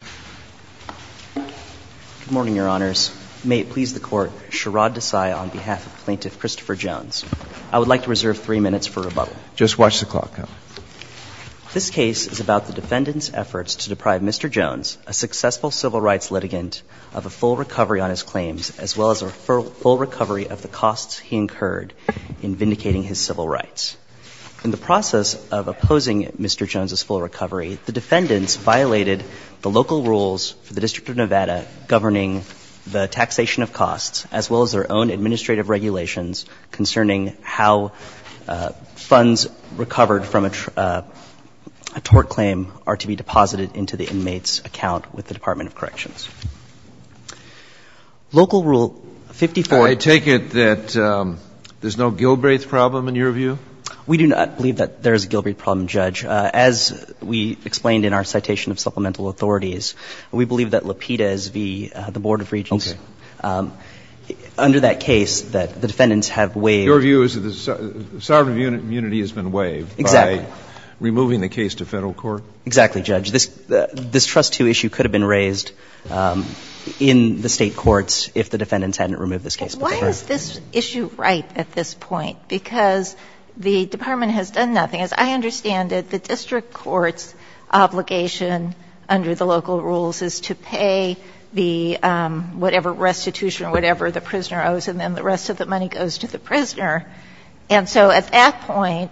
Good morning, Your Honors. May it please the Court, Sherrod Desai on behalf of Plaintiff Christopher Jones. I would like to reserve three minutes for rebuttal. Just watch the clock. This case is about the defendant's efforts to deprive Mr. Jones, a successful civil rights litigant, of a full recovery on his claims, as well as a full recovery of the costs he incurred in vindicating his civil rights. In the process of opposing Mr. Jones' full recovery, local rules for the District of Nevada governing the taxation of costs, as well as their own administrative regulations concerning how funds recovered from a tort claim are to be deposited into the inmate's account with the Department of Corrections. Local Rule 55 I take it that there's no Gilbreth problem, in your view? We do not believe that there is a Gilbreth problem, Judge. As we explained in our citation of supplemental authorities, we believe that Lapidus v. the Board of Regents, under that case, that the defendants have waived Your view is that the sovereign of immunity has been waived by removing the case to federal court? Exactly, Judge. This trustee issue could have been raised in the state courts if the defendants hadn't removed this case. Why is this issue ripe at this point? Because the Department has done nothing. As I understand it, the district court's obligation under the local rules is to pay the whatever restitution or whatever the prisoner owes, and then the rest of the money goes to the prisoner. And so at that point,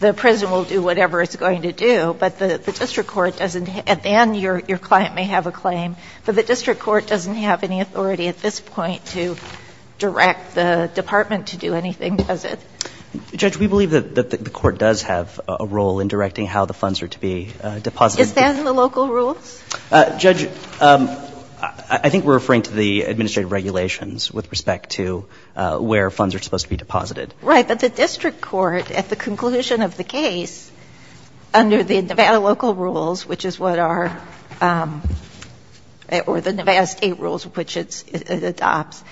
the prisoner will do whatever it's going to do, but the district court doesn't — at the end, your client may have a claim, but the district court doesn't have any authority at this point to direct the department to do anything, does it? Judge, we believe that the court does have a role in directing how the funds are to be deposited. Is that in the local rules? Judge, I think we're referring to the administrative regulations with respect to where funds are supposed to be deposited. Right. But the district court, at the conclusion of the case, under the Nevada local rules, which is what our — or the Nevada state rules, which it adopts,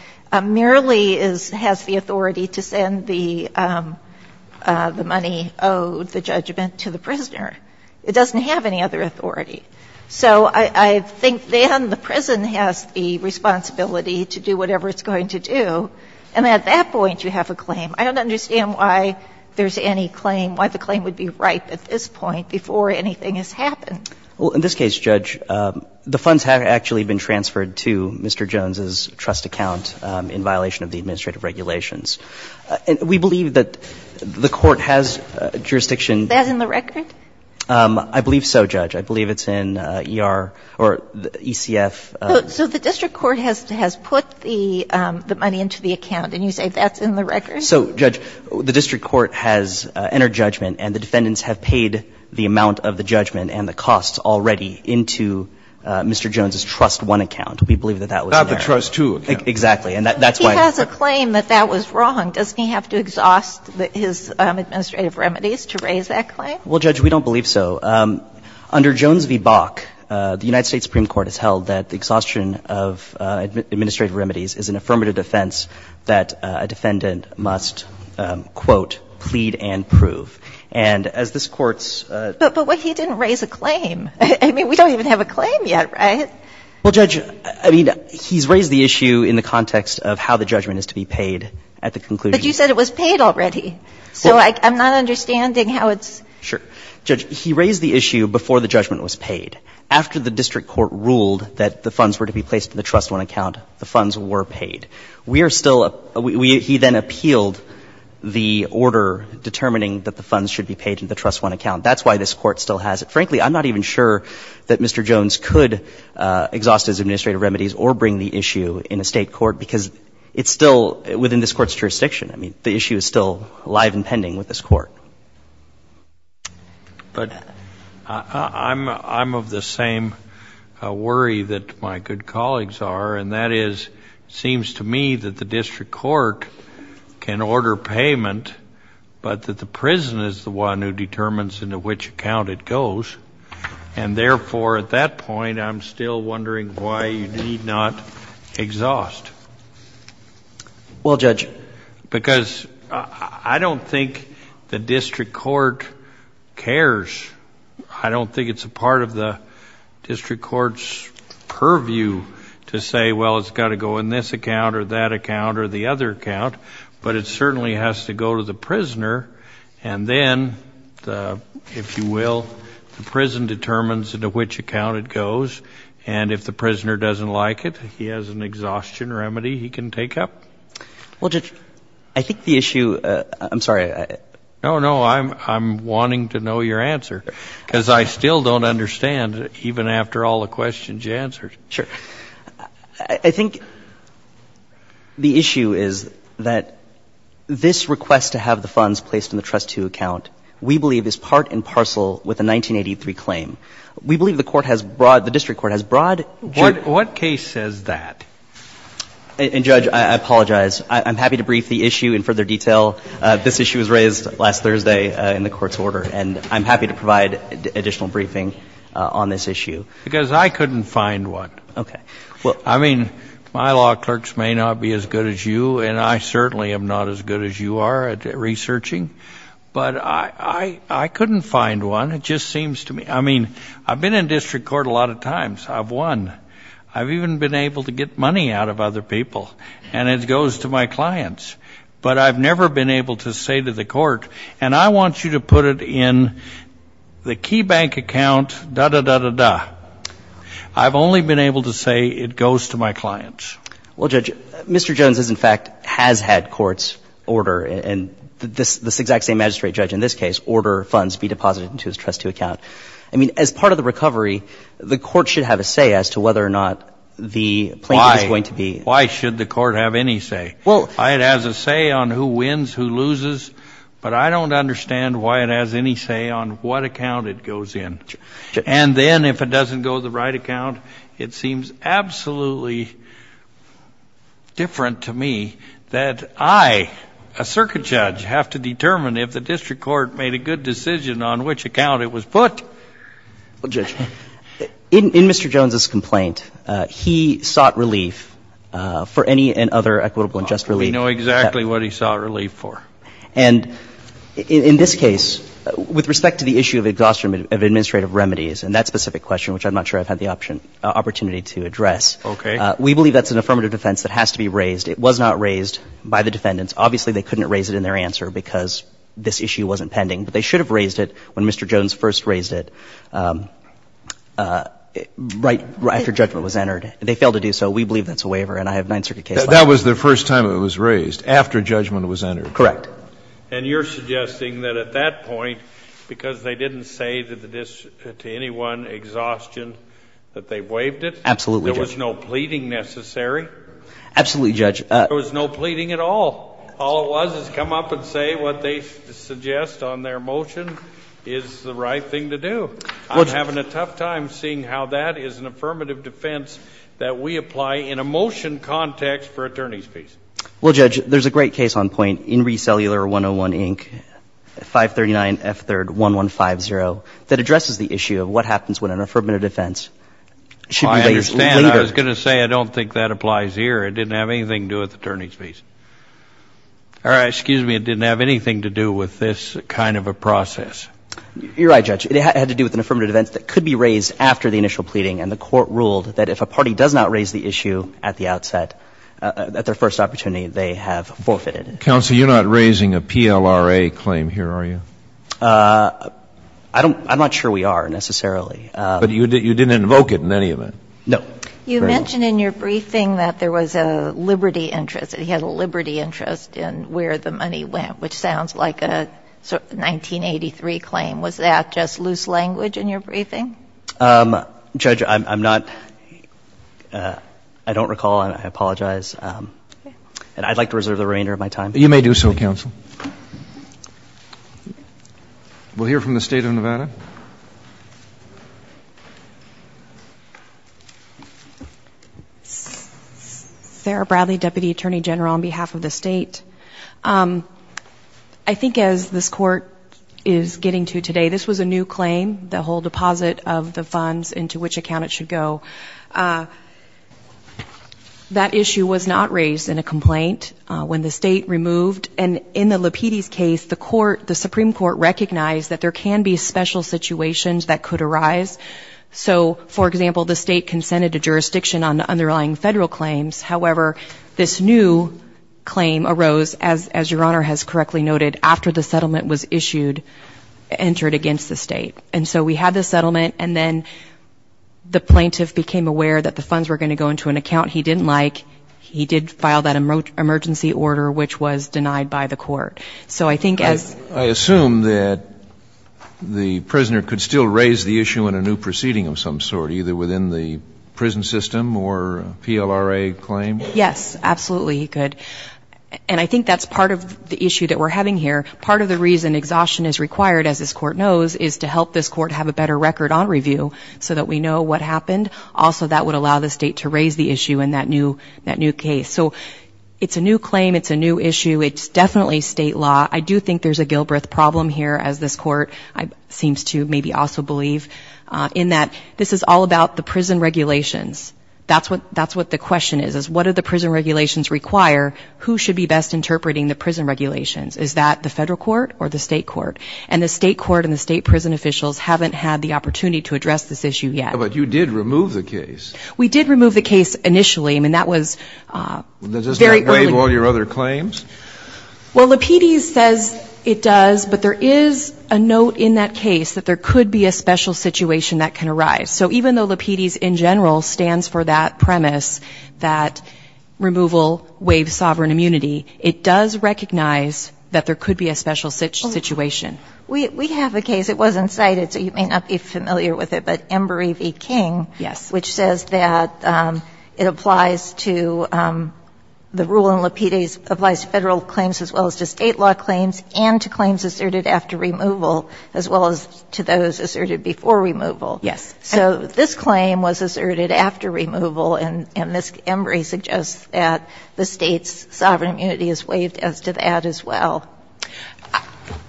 merely is — has the money owed, the judgment, to the prisoner. It doesn't have any other authority. So I think then the prison has the responsibility to do whatever it's going to do, and at that point you have a claim. I don't understand why there's any claim, why the claim would be ripe at this point before anything has happened. Well, in this case, Judge, the funds have actually been transferred to Mr. Jones's account. And we believe that the court has jurisdiction — Is that in the record? I believe so, Judge. I believe it's in ER or ECF. So the district court has put the money into the account, and you say that's in the record? So, Judge, the district court has entered judgment, and the defendants have paid the amount of the judgment and the costs already into Mr. Jones's Trust One account. We believe that that was there. Not the Trust Two account. Exactly. And that's why — Well, if you claim that that was wrong, doesn't he have to exhaust his administrative remedies to raise that claim? Well, Judge, we don't believe so. Under Jones v. Bok, the United States Supreme Court has held that the exhaustion of administrative remedies is an affirmative defense that a defendant must, quote, plead and prove. And as this Court's — But he didn't raise a claim. I mean, we don't even have a claim yet, right? Well, Judge, I mean, he's raised the issue in the context of how the judgment is to be paid at the conclusion. But you said it was paid already. So I'm not understanding how it's — Sure. Judge, he raised the issue before the judgment was paid. After the district court ruled that the funds were to be placed in the Trust One account, the funds were paid. We are still — he then appealed the order determining that the funds should be paid in the Trust One account. That's why this Court still has it. Frankly, I'm not even sure that Mr. Jones could exhaust his administrative remedies or bring the issue in a state court, because it's still within this Court's jurisdiction. I mean, the issue is still alive and pending with this Court. But I'm of the same worry that my good colleagues are, and that is, it seems to me that the district court can order payment, but that the prison is the one who pays it. And therefore, at that point, I'm still wondering why you need not exhaust. Well, Judge — Because I don't think the district court cares. I don't think it's a part of the district court's purview to say, well, it's got to go in this account or that account or the other account. But it certainly has to go to the prisoner. And then, if you will, the prison determines into which account it goes. And if the prisoner doesn't like it, he has an exhaustion remedy he can take up. Well, Judge, I think the issue — I'm sorry. No, no. I'm wanting to know your answer, because I still don't understand, even after all the questions you answered. Sure. I think the issue is that this request to have the funds placed in the Trust II account, we believe, is part and parcel with a 1983 claim. We believe the court has brought — the district court has brought — What case says that? And, Judge, I apologize. I'm happy to brief the issue in further detail. This issue was raised last Thursday in the court's order, and I'm happy to provide additional briefing on this issue. Because I couldn't find one. Okay. I mean, my law clerks may not be as good as you, and I certainly am not as good as you are at researching. But I couldn't find one. It just seems to me — I mean, I've been in district court a lot of times. I've won. I've even been able to get money out of other people, and it goes to my clients. But I've never been able to say to the court, and I want you to put it in the KeyBank account, da-da-da-da-da. I've only been able to say it goes to my clients. Well, Judge, Mr. Jones has, in fact, has had courts order — and this exact same magistrate judge, in this case, order funds be deposited into his trustee account. I mean, as part of the recovery, the court should have a say as to whether or not the plaintiff is going to be — Why? Why should the court have any say? Well — It has a say on who wins, who loses. But I don't understand why it has any say on what account it goes in. Sure. And then, if it doesn't go to the right account, it seems absolutely different to me that I, a circuit judge, have to determine if the district court made a good decision on which account it was put. Well, Judge, in Mr. Jones's complaint, he sought relief for any and other equitable and just relief. Oh, I know exactly what he sought relief for. And in this case, with respect to the issue of exhaustion of administrative remedies and that specific question, which I'm not sure I've had the opportunity to address — Okay. We believe that's an affirmative defense that has to be raised. It was not raised by the defendants. Obviously, they couldn't raise it in their answer because this issue wasn't pending. But they should have raised it when Mr. Jones first raised it, right after judgment was entered. They failed to do so. We believe that's a waiver, and I have nine circuit cases. That was the first time it was raised, after judgment was entered. Correct. And you're suggesting that at that point, because they didn't say to anyone, exhaustion, that they waived it — Absolutely, Judge. — there was no pleading necessary? Absolutely, Judge. There was no pleading at all. All it was is come up and say what they suggest on their motion is the right thing to do. I'm having a tough time seeing how that is an affirmative defense that we apply in a motion context for attorneys' fees. Well, Judge, there's a great case on point in Resellular 101, Inc., 539 F3rd 1150, that addresses the issue of what happens when an affirmative defense should be raised later. I understand. I was going to say, I don't think that applies here. It didn't have anything to do with attorneys' fees. Or, excuse me, it didn't have anything to do with this kind of a process. You're right, Judge. It had to do with an affirmative defense that could be raised after the initial pleading, and the court ruled that if a party does not raise the issue at the outset, at their first opportunity, they have forfeited. Counsel, you're not raising a PLRA claim here, are you? I'm not sure we are, necessarily. But you didn't invoke it in any event? No. You mentioned in your briefing that there was a liberty interest, that he had a liberty interest in where the money went, Was that just loose language in your briefing? Judge, I'm not, I don't recall, and I apologize. And I'd like to reserve the remainder of my time. You may do so, Counsel. We'll hear from the State of Nevada. Sarah Bradley, Deputy Attorney General on behalf of the State. I think as this Court is getting to today, this was a new claim. The whole deposit of the funds into which account it should go. That issue was not raised in a complaint when the State removed. And in the Lapides case, the Supreme Court recognized that there can be special situations that could arise. So, for example, the State consented to jurisdiction on the underlying federal claims. However, this new claim arose, as Your Honor has correctly noted, after the settlement was issued, entered against the State. And so we had the settlement, and then the plaintiff became aware that the funds were going to go into an account he didn't like. He did file that emergency order, which was denied by the Court. So I think as I assume that the prisoner could still raise the issue in a new proceeding of some sort, either within the prison system or PLRA claim? Yes, absolutely he could. And I think that's part of the issue that we're having here. Part of the reason exhaustion is required, as this Court knows, is to help this Court have a better record on review, so that we know what happened. Also, that would allow the State to raise the issue in that new case. So it's a new claim. It's a new issue. It's definitely State law. I do think there's a Gilbreth problem here, as this Court seems to maybe also believe, in that this is all about the prison regulations. That's what the question is, is what do the prison regulations require? Who should be best interpreting the prison regulations? Is that the Federal Court or the State Court? And the State Court and the State prison officials haven't had the opportunity to address this issue yet. But you did remove the case. We did remove the case initially. I mean, that was very early. Does that waive all your other claims? Well, Lapides says it does, but there is a note in that case that there could be a special situation that can arise. So even though Lapides, in general, stands for that premise, that removal waives sovereign immunity, it does recognize that there could be a special situation. We have a case. It wasn't cited, so you may not be familiar with it, but Embry v. King. Yes. Which says that it applies to the rule in Lapides applies to Federal claims as well as to State law claims and to claims asserted after removal as well as to those asserted before removal. Yes. So this claim was asserted after removal, and Ms. Embry suggests that the State's sovereign immunity is waived as to that as well.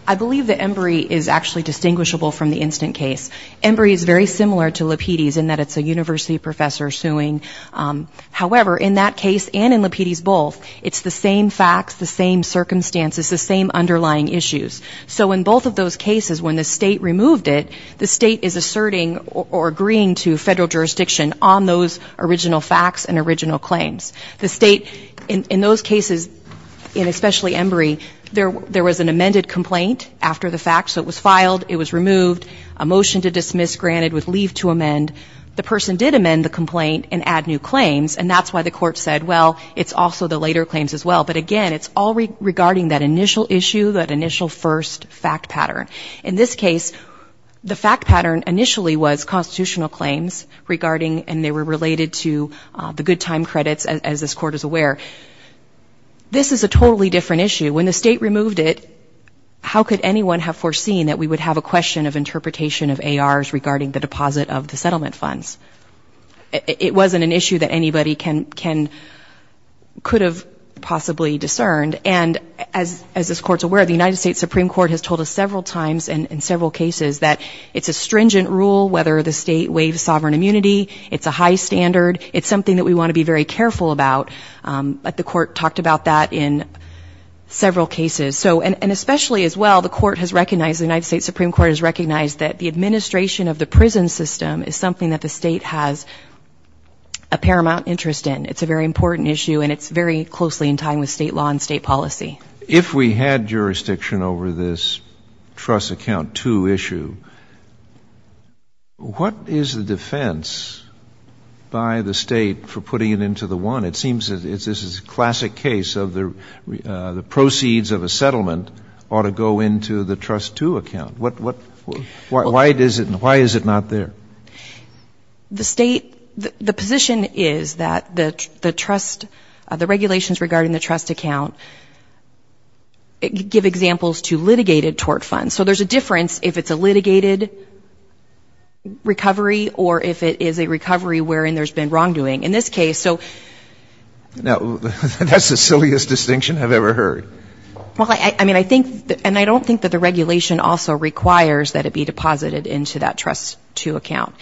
I believe that Embry is actually distinguishable from the instant case. Embry is very similar to Lapides in that it's a university professor suing. However, in that case and in Lapides both, it's the same facts, the same circumstances, the same underlying issues. So in both of those cases, when the State removed it, the State is asserting or agreeing to Federal jurisdiction on those original facts and original claims. The State, in those cases, and especially Embry, there was an amended complaint after the fact. So it was filed. It was removed. A motion to dismiss granted with leave to amend. The person did amend the complaint and add new claims, and that's why the court said, well, it's also the later claims as well. But again, it's all regarding that initial issue, that initial first fact pattern. In this case, the fact pattern initially was constitutional claims regarding and they were related to the good time credits, as this Court is aware. This is a totally different issue. When the State removed it, how could anyone have foreseen that we would have a question of interpretation of ARs regarding the deposit of the settlement funds? It wasn't an issue that anybody can or could have possibly discerned. And as this Court is aware, the United States Supreme Court has told us several times and in several cases that it's a stringent rule whether the State waives sovereign immunity. It's a high standard. It's something that we want to be very careful about. But the court talked about that in several cases. So and especially as well, the court has recognized, the United States Supreme Court has recognized that the administration of the prison system is something that the State has a paramount interest in. It's a very important issue and it's very closely in time with State law and State policy. If we had jurisdiction over this trust account two issue, what is the defense by the State for putting it into the one? It seems that this is a classic case of the proceeds of a settlement ought to go into the trust two account. Why is it not there? The State, the position is that the trust, the regulations regarding the trust account, give examples to litigated tort funds. So there's a difference if it's a litigated recovery or if it is a recovery wherein there's been wrongdoing. In this case, so. Now, that's the silliest distinction I've ever heard. Well, I mean, I think, and I don't think that the regulation also requires that it be deposited into that trust two account.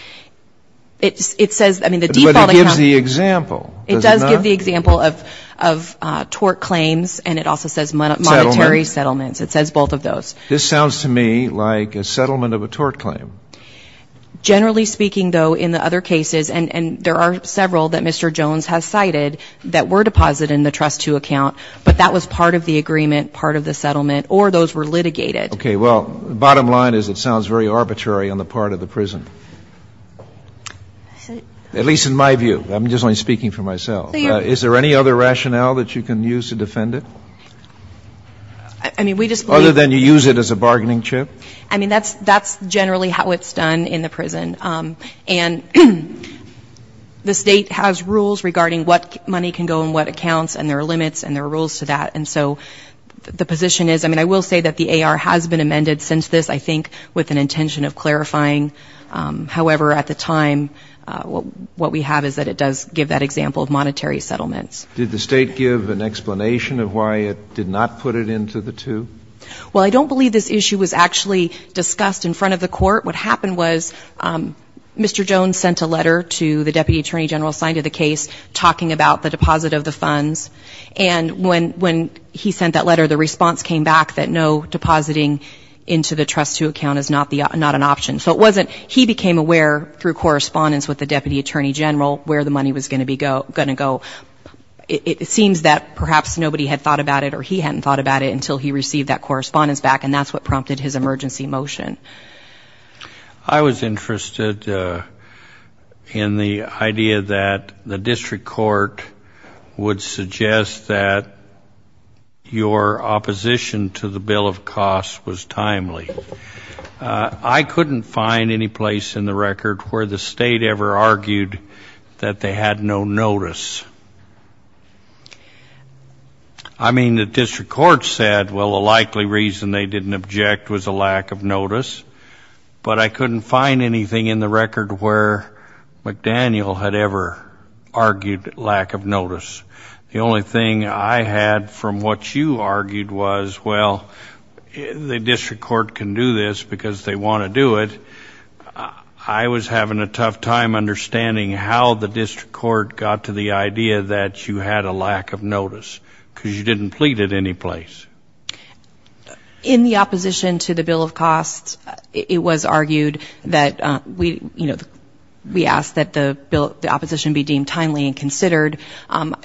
It says, I mean, the default account. But it gives the example, does it not? It does give the example of tort claims and it also says monetary settlements. It says both of those. This sounds to me like a settlement of a tort claim. Generally speaking, though, in the other cases, and there are several that Mr. Jones has cited that were deposited in the trust two account, but that was part of the agreement, part of the settlement, or those were litigated. Okay. Well, the bottom line is it sounds very arbitrary on the part of the prison. At least in my view. I'm just only speaking for myself. Is there any other rationale that you can use to defend it? I mean, we just believe. Other than you use it as a bargaining chip. I mean, that's generally how it's done in the prison. And the state has rules regarding what money can go in what accounts and there are limits and there are rules to that. And so the position is, I mean, I will say that the AR has been amended since this, I think with an intention of clarifying. However, at the time, what we have is that it does give that example of monetary settlements. Did the state give an explanation of why it did not put it into the two? Well, I don't believe this issue was actually discussed in front of the court. What happened was Mr. Jones sent a letter to the deputy attorney general assigned to the case talking about the deposit of the funds. And when he sent that letter, the response came back that no depositing into the trust to account is not an option. So it wasn't he became aware through correspondence with the deputy attorney general where the money was going to go. It seems that perhaps nobody had thought about it or he hadn't thought about it until he received that correspondence back and that's what prompted his emergency motion. I was interested in the idea that the district court would suggest that your opposition to the bill of costs was timely. I couldn't find any place in the record where the state ever argued that they had no notice. I mean, the district court said, well, the likely reason they didn't object was a lack of notice. But I couldn't find anything in the record where McDaniel had ever argued lack of notice. The only thing I had from what you argued was, well, the district court can do this because they want to do it. I was having a tough time understanding how the district court got to the idea that you had a lack of notice because you didn't plead at any place. In the opposition to the bill of costs, it was argued that we asked that the opposition be deemed timely and considered.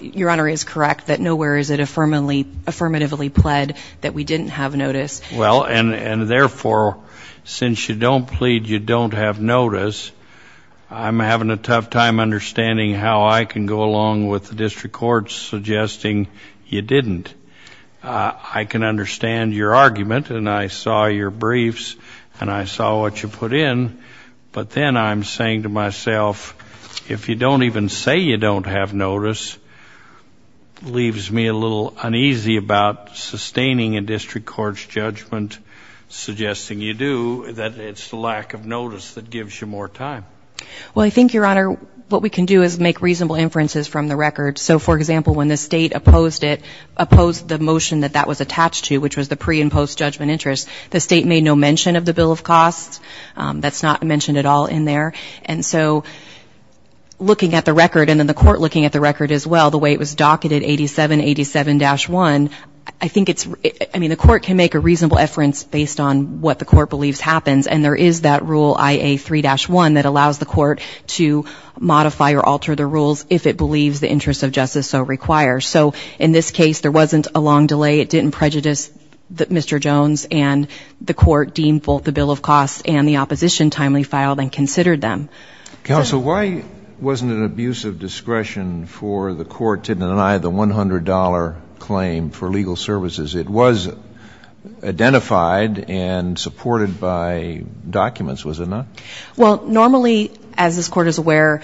Your Honor is correct that nowhere is it affirmatively pled that we didn't have notice. Well, and therefore, since you don't plead, you don't have notice, I'm having a tough time understanding how I can go along with the district court suggesting you didn't. I can understand your argument and I saw your briefs and I saw what you put in, but then I'm saying to myself, if you don't even say you don't have notice, leaves me a little uneasy about sustaining a district court's judgment, suggesting you do, that it's the lack of notice that gives you more time. Well, I think, Your Honor, what we can do is make reasonable inferences from the record. So, for example, when the state opposed it, opposed the motion that that was attached to, which was the pre- and post-judgment interest, the state made no mention of the bill of costs. That's not mentioned at all in there. And so looking at the record and then the court looking at the record as well, the way it was docketed, 87-87-1, I think it's, I mean, the court can make a reasonable inference based on what the court believes happens and there is that rule, IA-3-1, that allows the court to modify or alter the rules if it believes the interest of justice so requires. So, in this case, there wasn't a long delay. It didn't prejudice Mr. Jones and the court deemed both the bill of costs and the opposition timely filed and considered them. Counsel, why wasn't an abuse of discretion for the court to deny the $100 claim for legal services? It was identified and supported by documents, was it not? Well, normally, as this court is aware,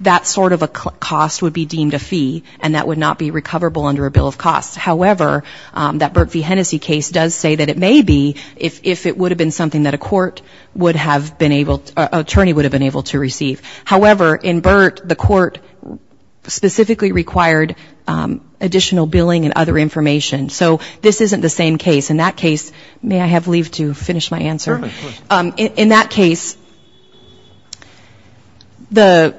that sort of a cost would be deemed a fee and that would not be recoverable under a bill of costs. However, that Burt v. Hennessy case does say that it may be if it would have been something that a court would have been able to, an attorney would have been able to receive. However, in Burt, the court specifically required additional billing and other information. So this isn't the same case. In that case, may I have leave to finish my answer? Sure, of course. In that case, the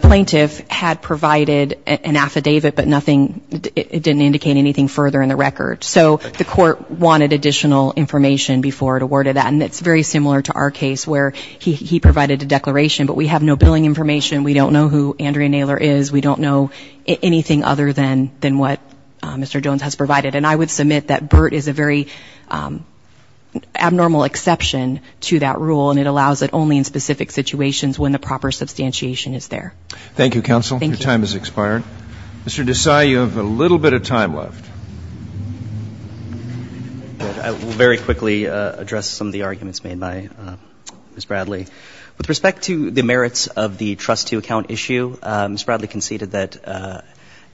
plaintiff had provided an affidavit, but nothing, it didn't indicate anything further in the record. So the court wanted additional information before it awarded that. And it's very similar to our case where he provided a declaration, but we have no billing information. We don't know who Andrea Naylor is. We don't know anything other than what Mr. Jones has provided. And I would submit that Burt is a very abnormal exception to that rule and it allows it only in specific situations when the proper substantiation is there. Thank you, counsel. Thank you. Your time has expired. Mr. Desai, you have a little bit of time left. I will very quickly address some of the arguments made by Ms. Bradley. With respect to the merits of the trustee account issue, Ms. Bradley conceded that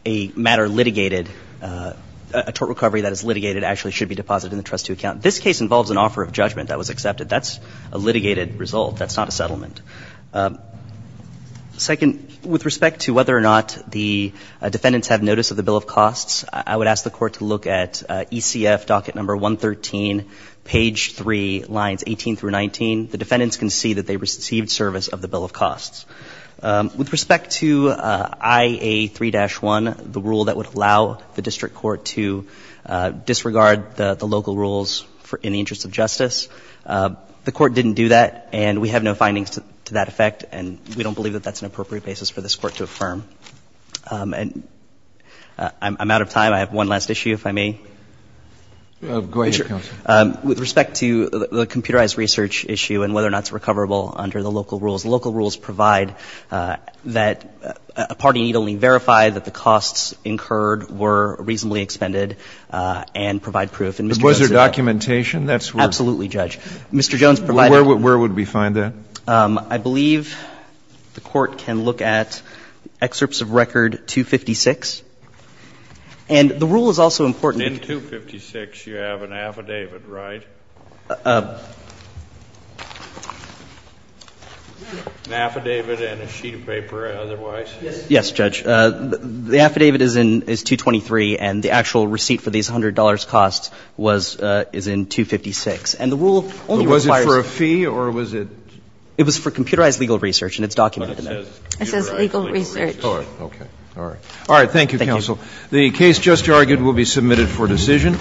a matter litigated, a tort recovery that is litigated actually should be deposited in the trustee account. This case involves an offer of judgment that was accepted. That's a litigated result. That's not a settlement. Second, with respect to whether or not the defendants have notice of the bill of costs, I would ask the Court to look at ECF docket number 113, page 3, lines 18 through 19. The defendants concede that they received service of the bill of costs. With respect to IA3-1, the rule that would allow the district court to disregard the local rules in the interest of justice, the court didn't do that and we have no findings to that effect and we don't believe that that's an appropriate basis for this court to affirm. I'm out of time. I have one last issue, if I may. Go ahead, counsel. With respect to the computerized research issue and whether or not it's recoverable under the local rules, local rules provide that a party need only verify that the costs incurred were reasonably expended and provide proof. And Mr. Jones said that. Was there documentation? Absolutely, Judge. Mr. Jones provided that. Where would we find that? I believe the Court can look at excerpts of record 256. And the rule is also important. In 256 you have an affidavit, right? An affidavit and a sheet of paper, otherwise. Yes, Judge. The affidavit is in 223 and the actual receipt for these $100 costs was, is in 256. And the rule only requires. Was it for a fee or was it? It was for computerized legal research and it's documented. But it says computerized legal research. All right. Okay. All right. Thank you, counsel. The case just argued will be submitted for decision.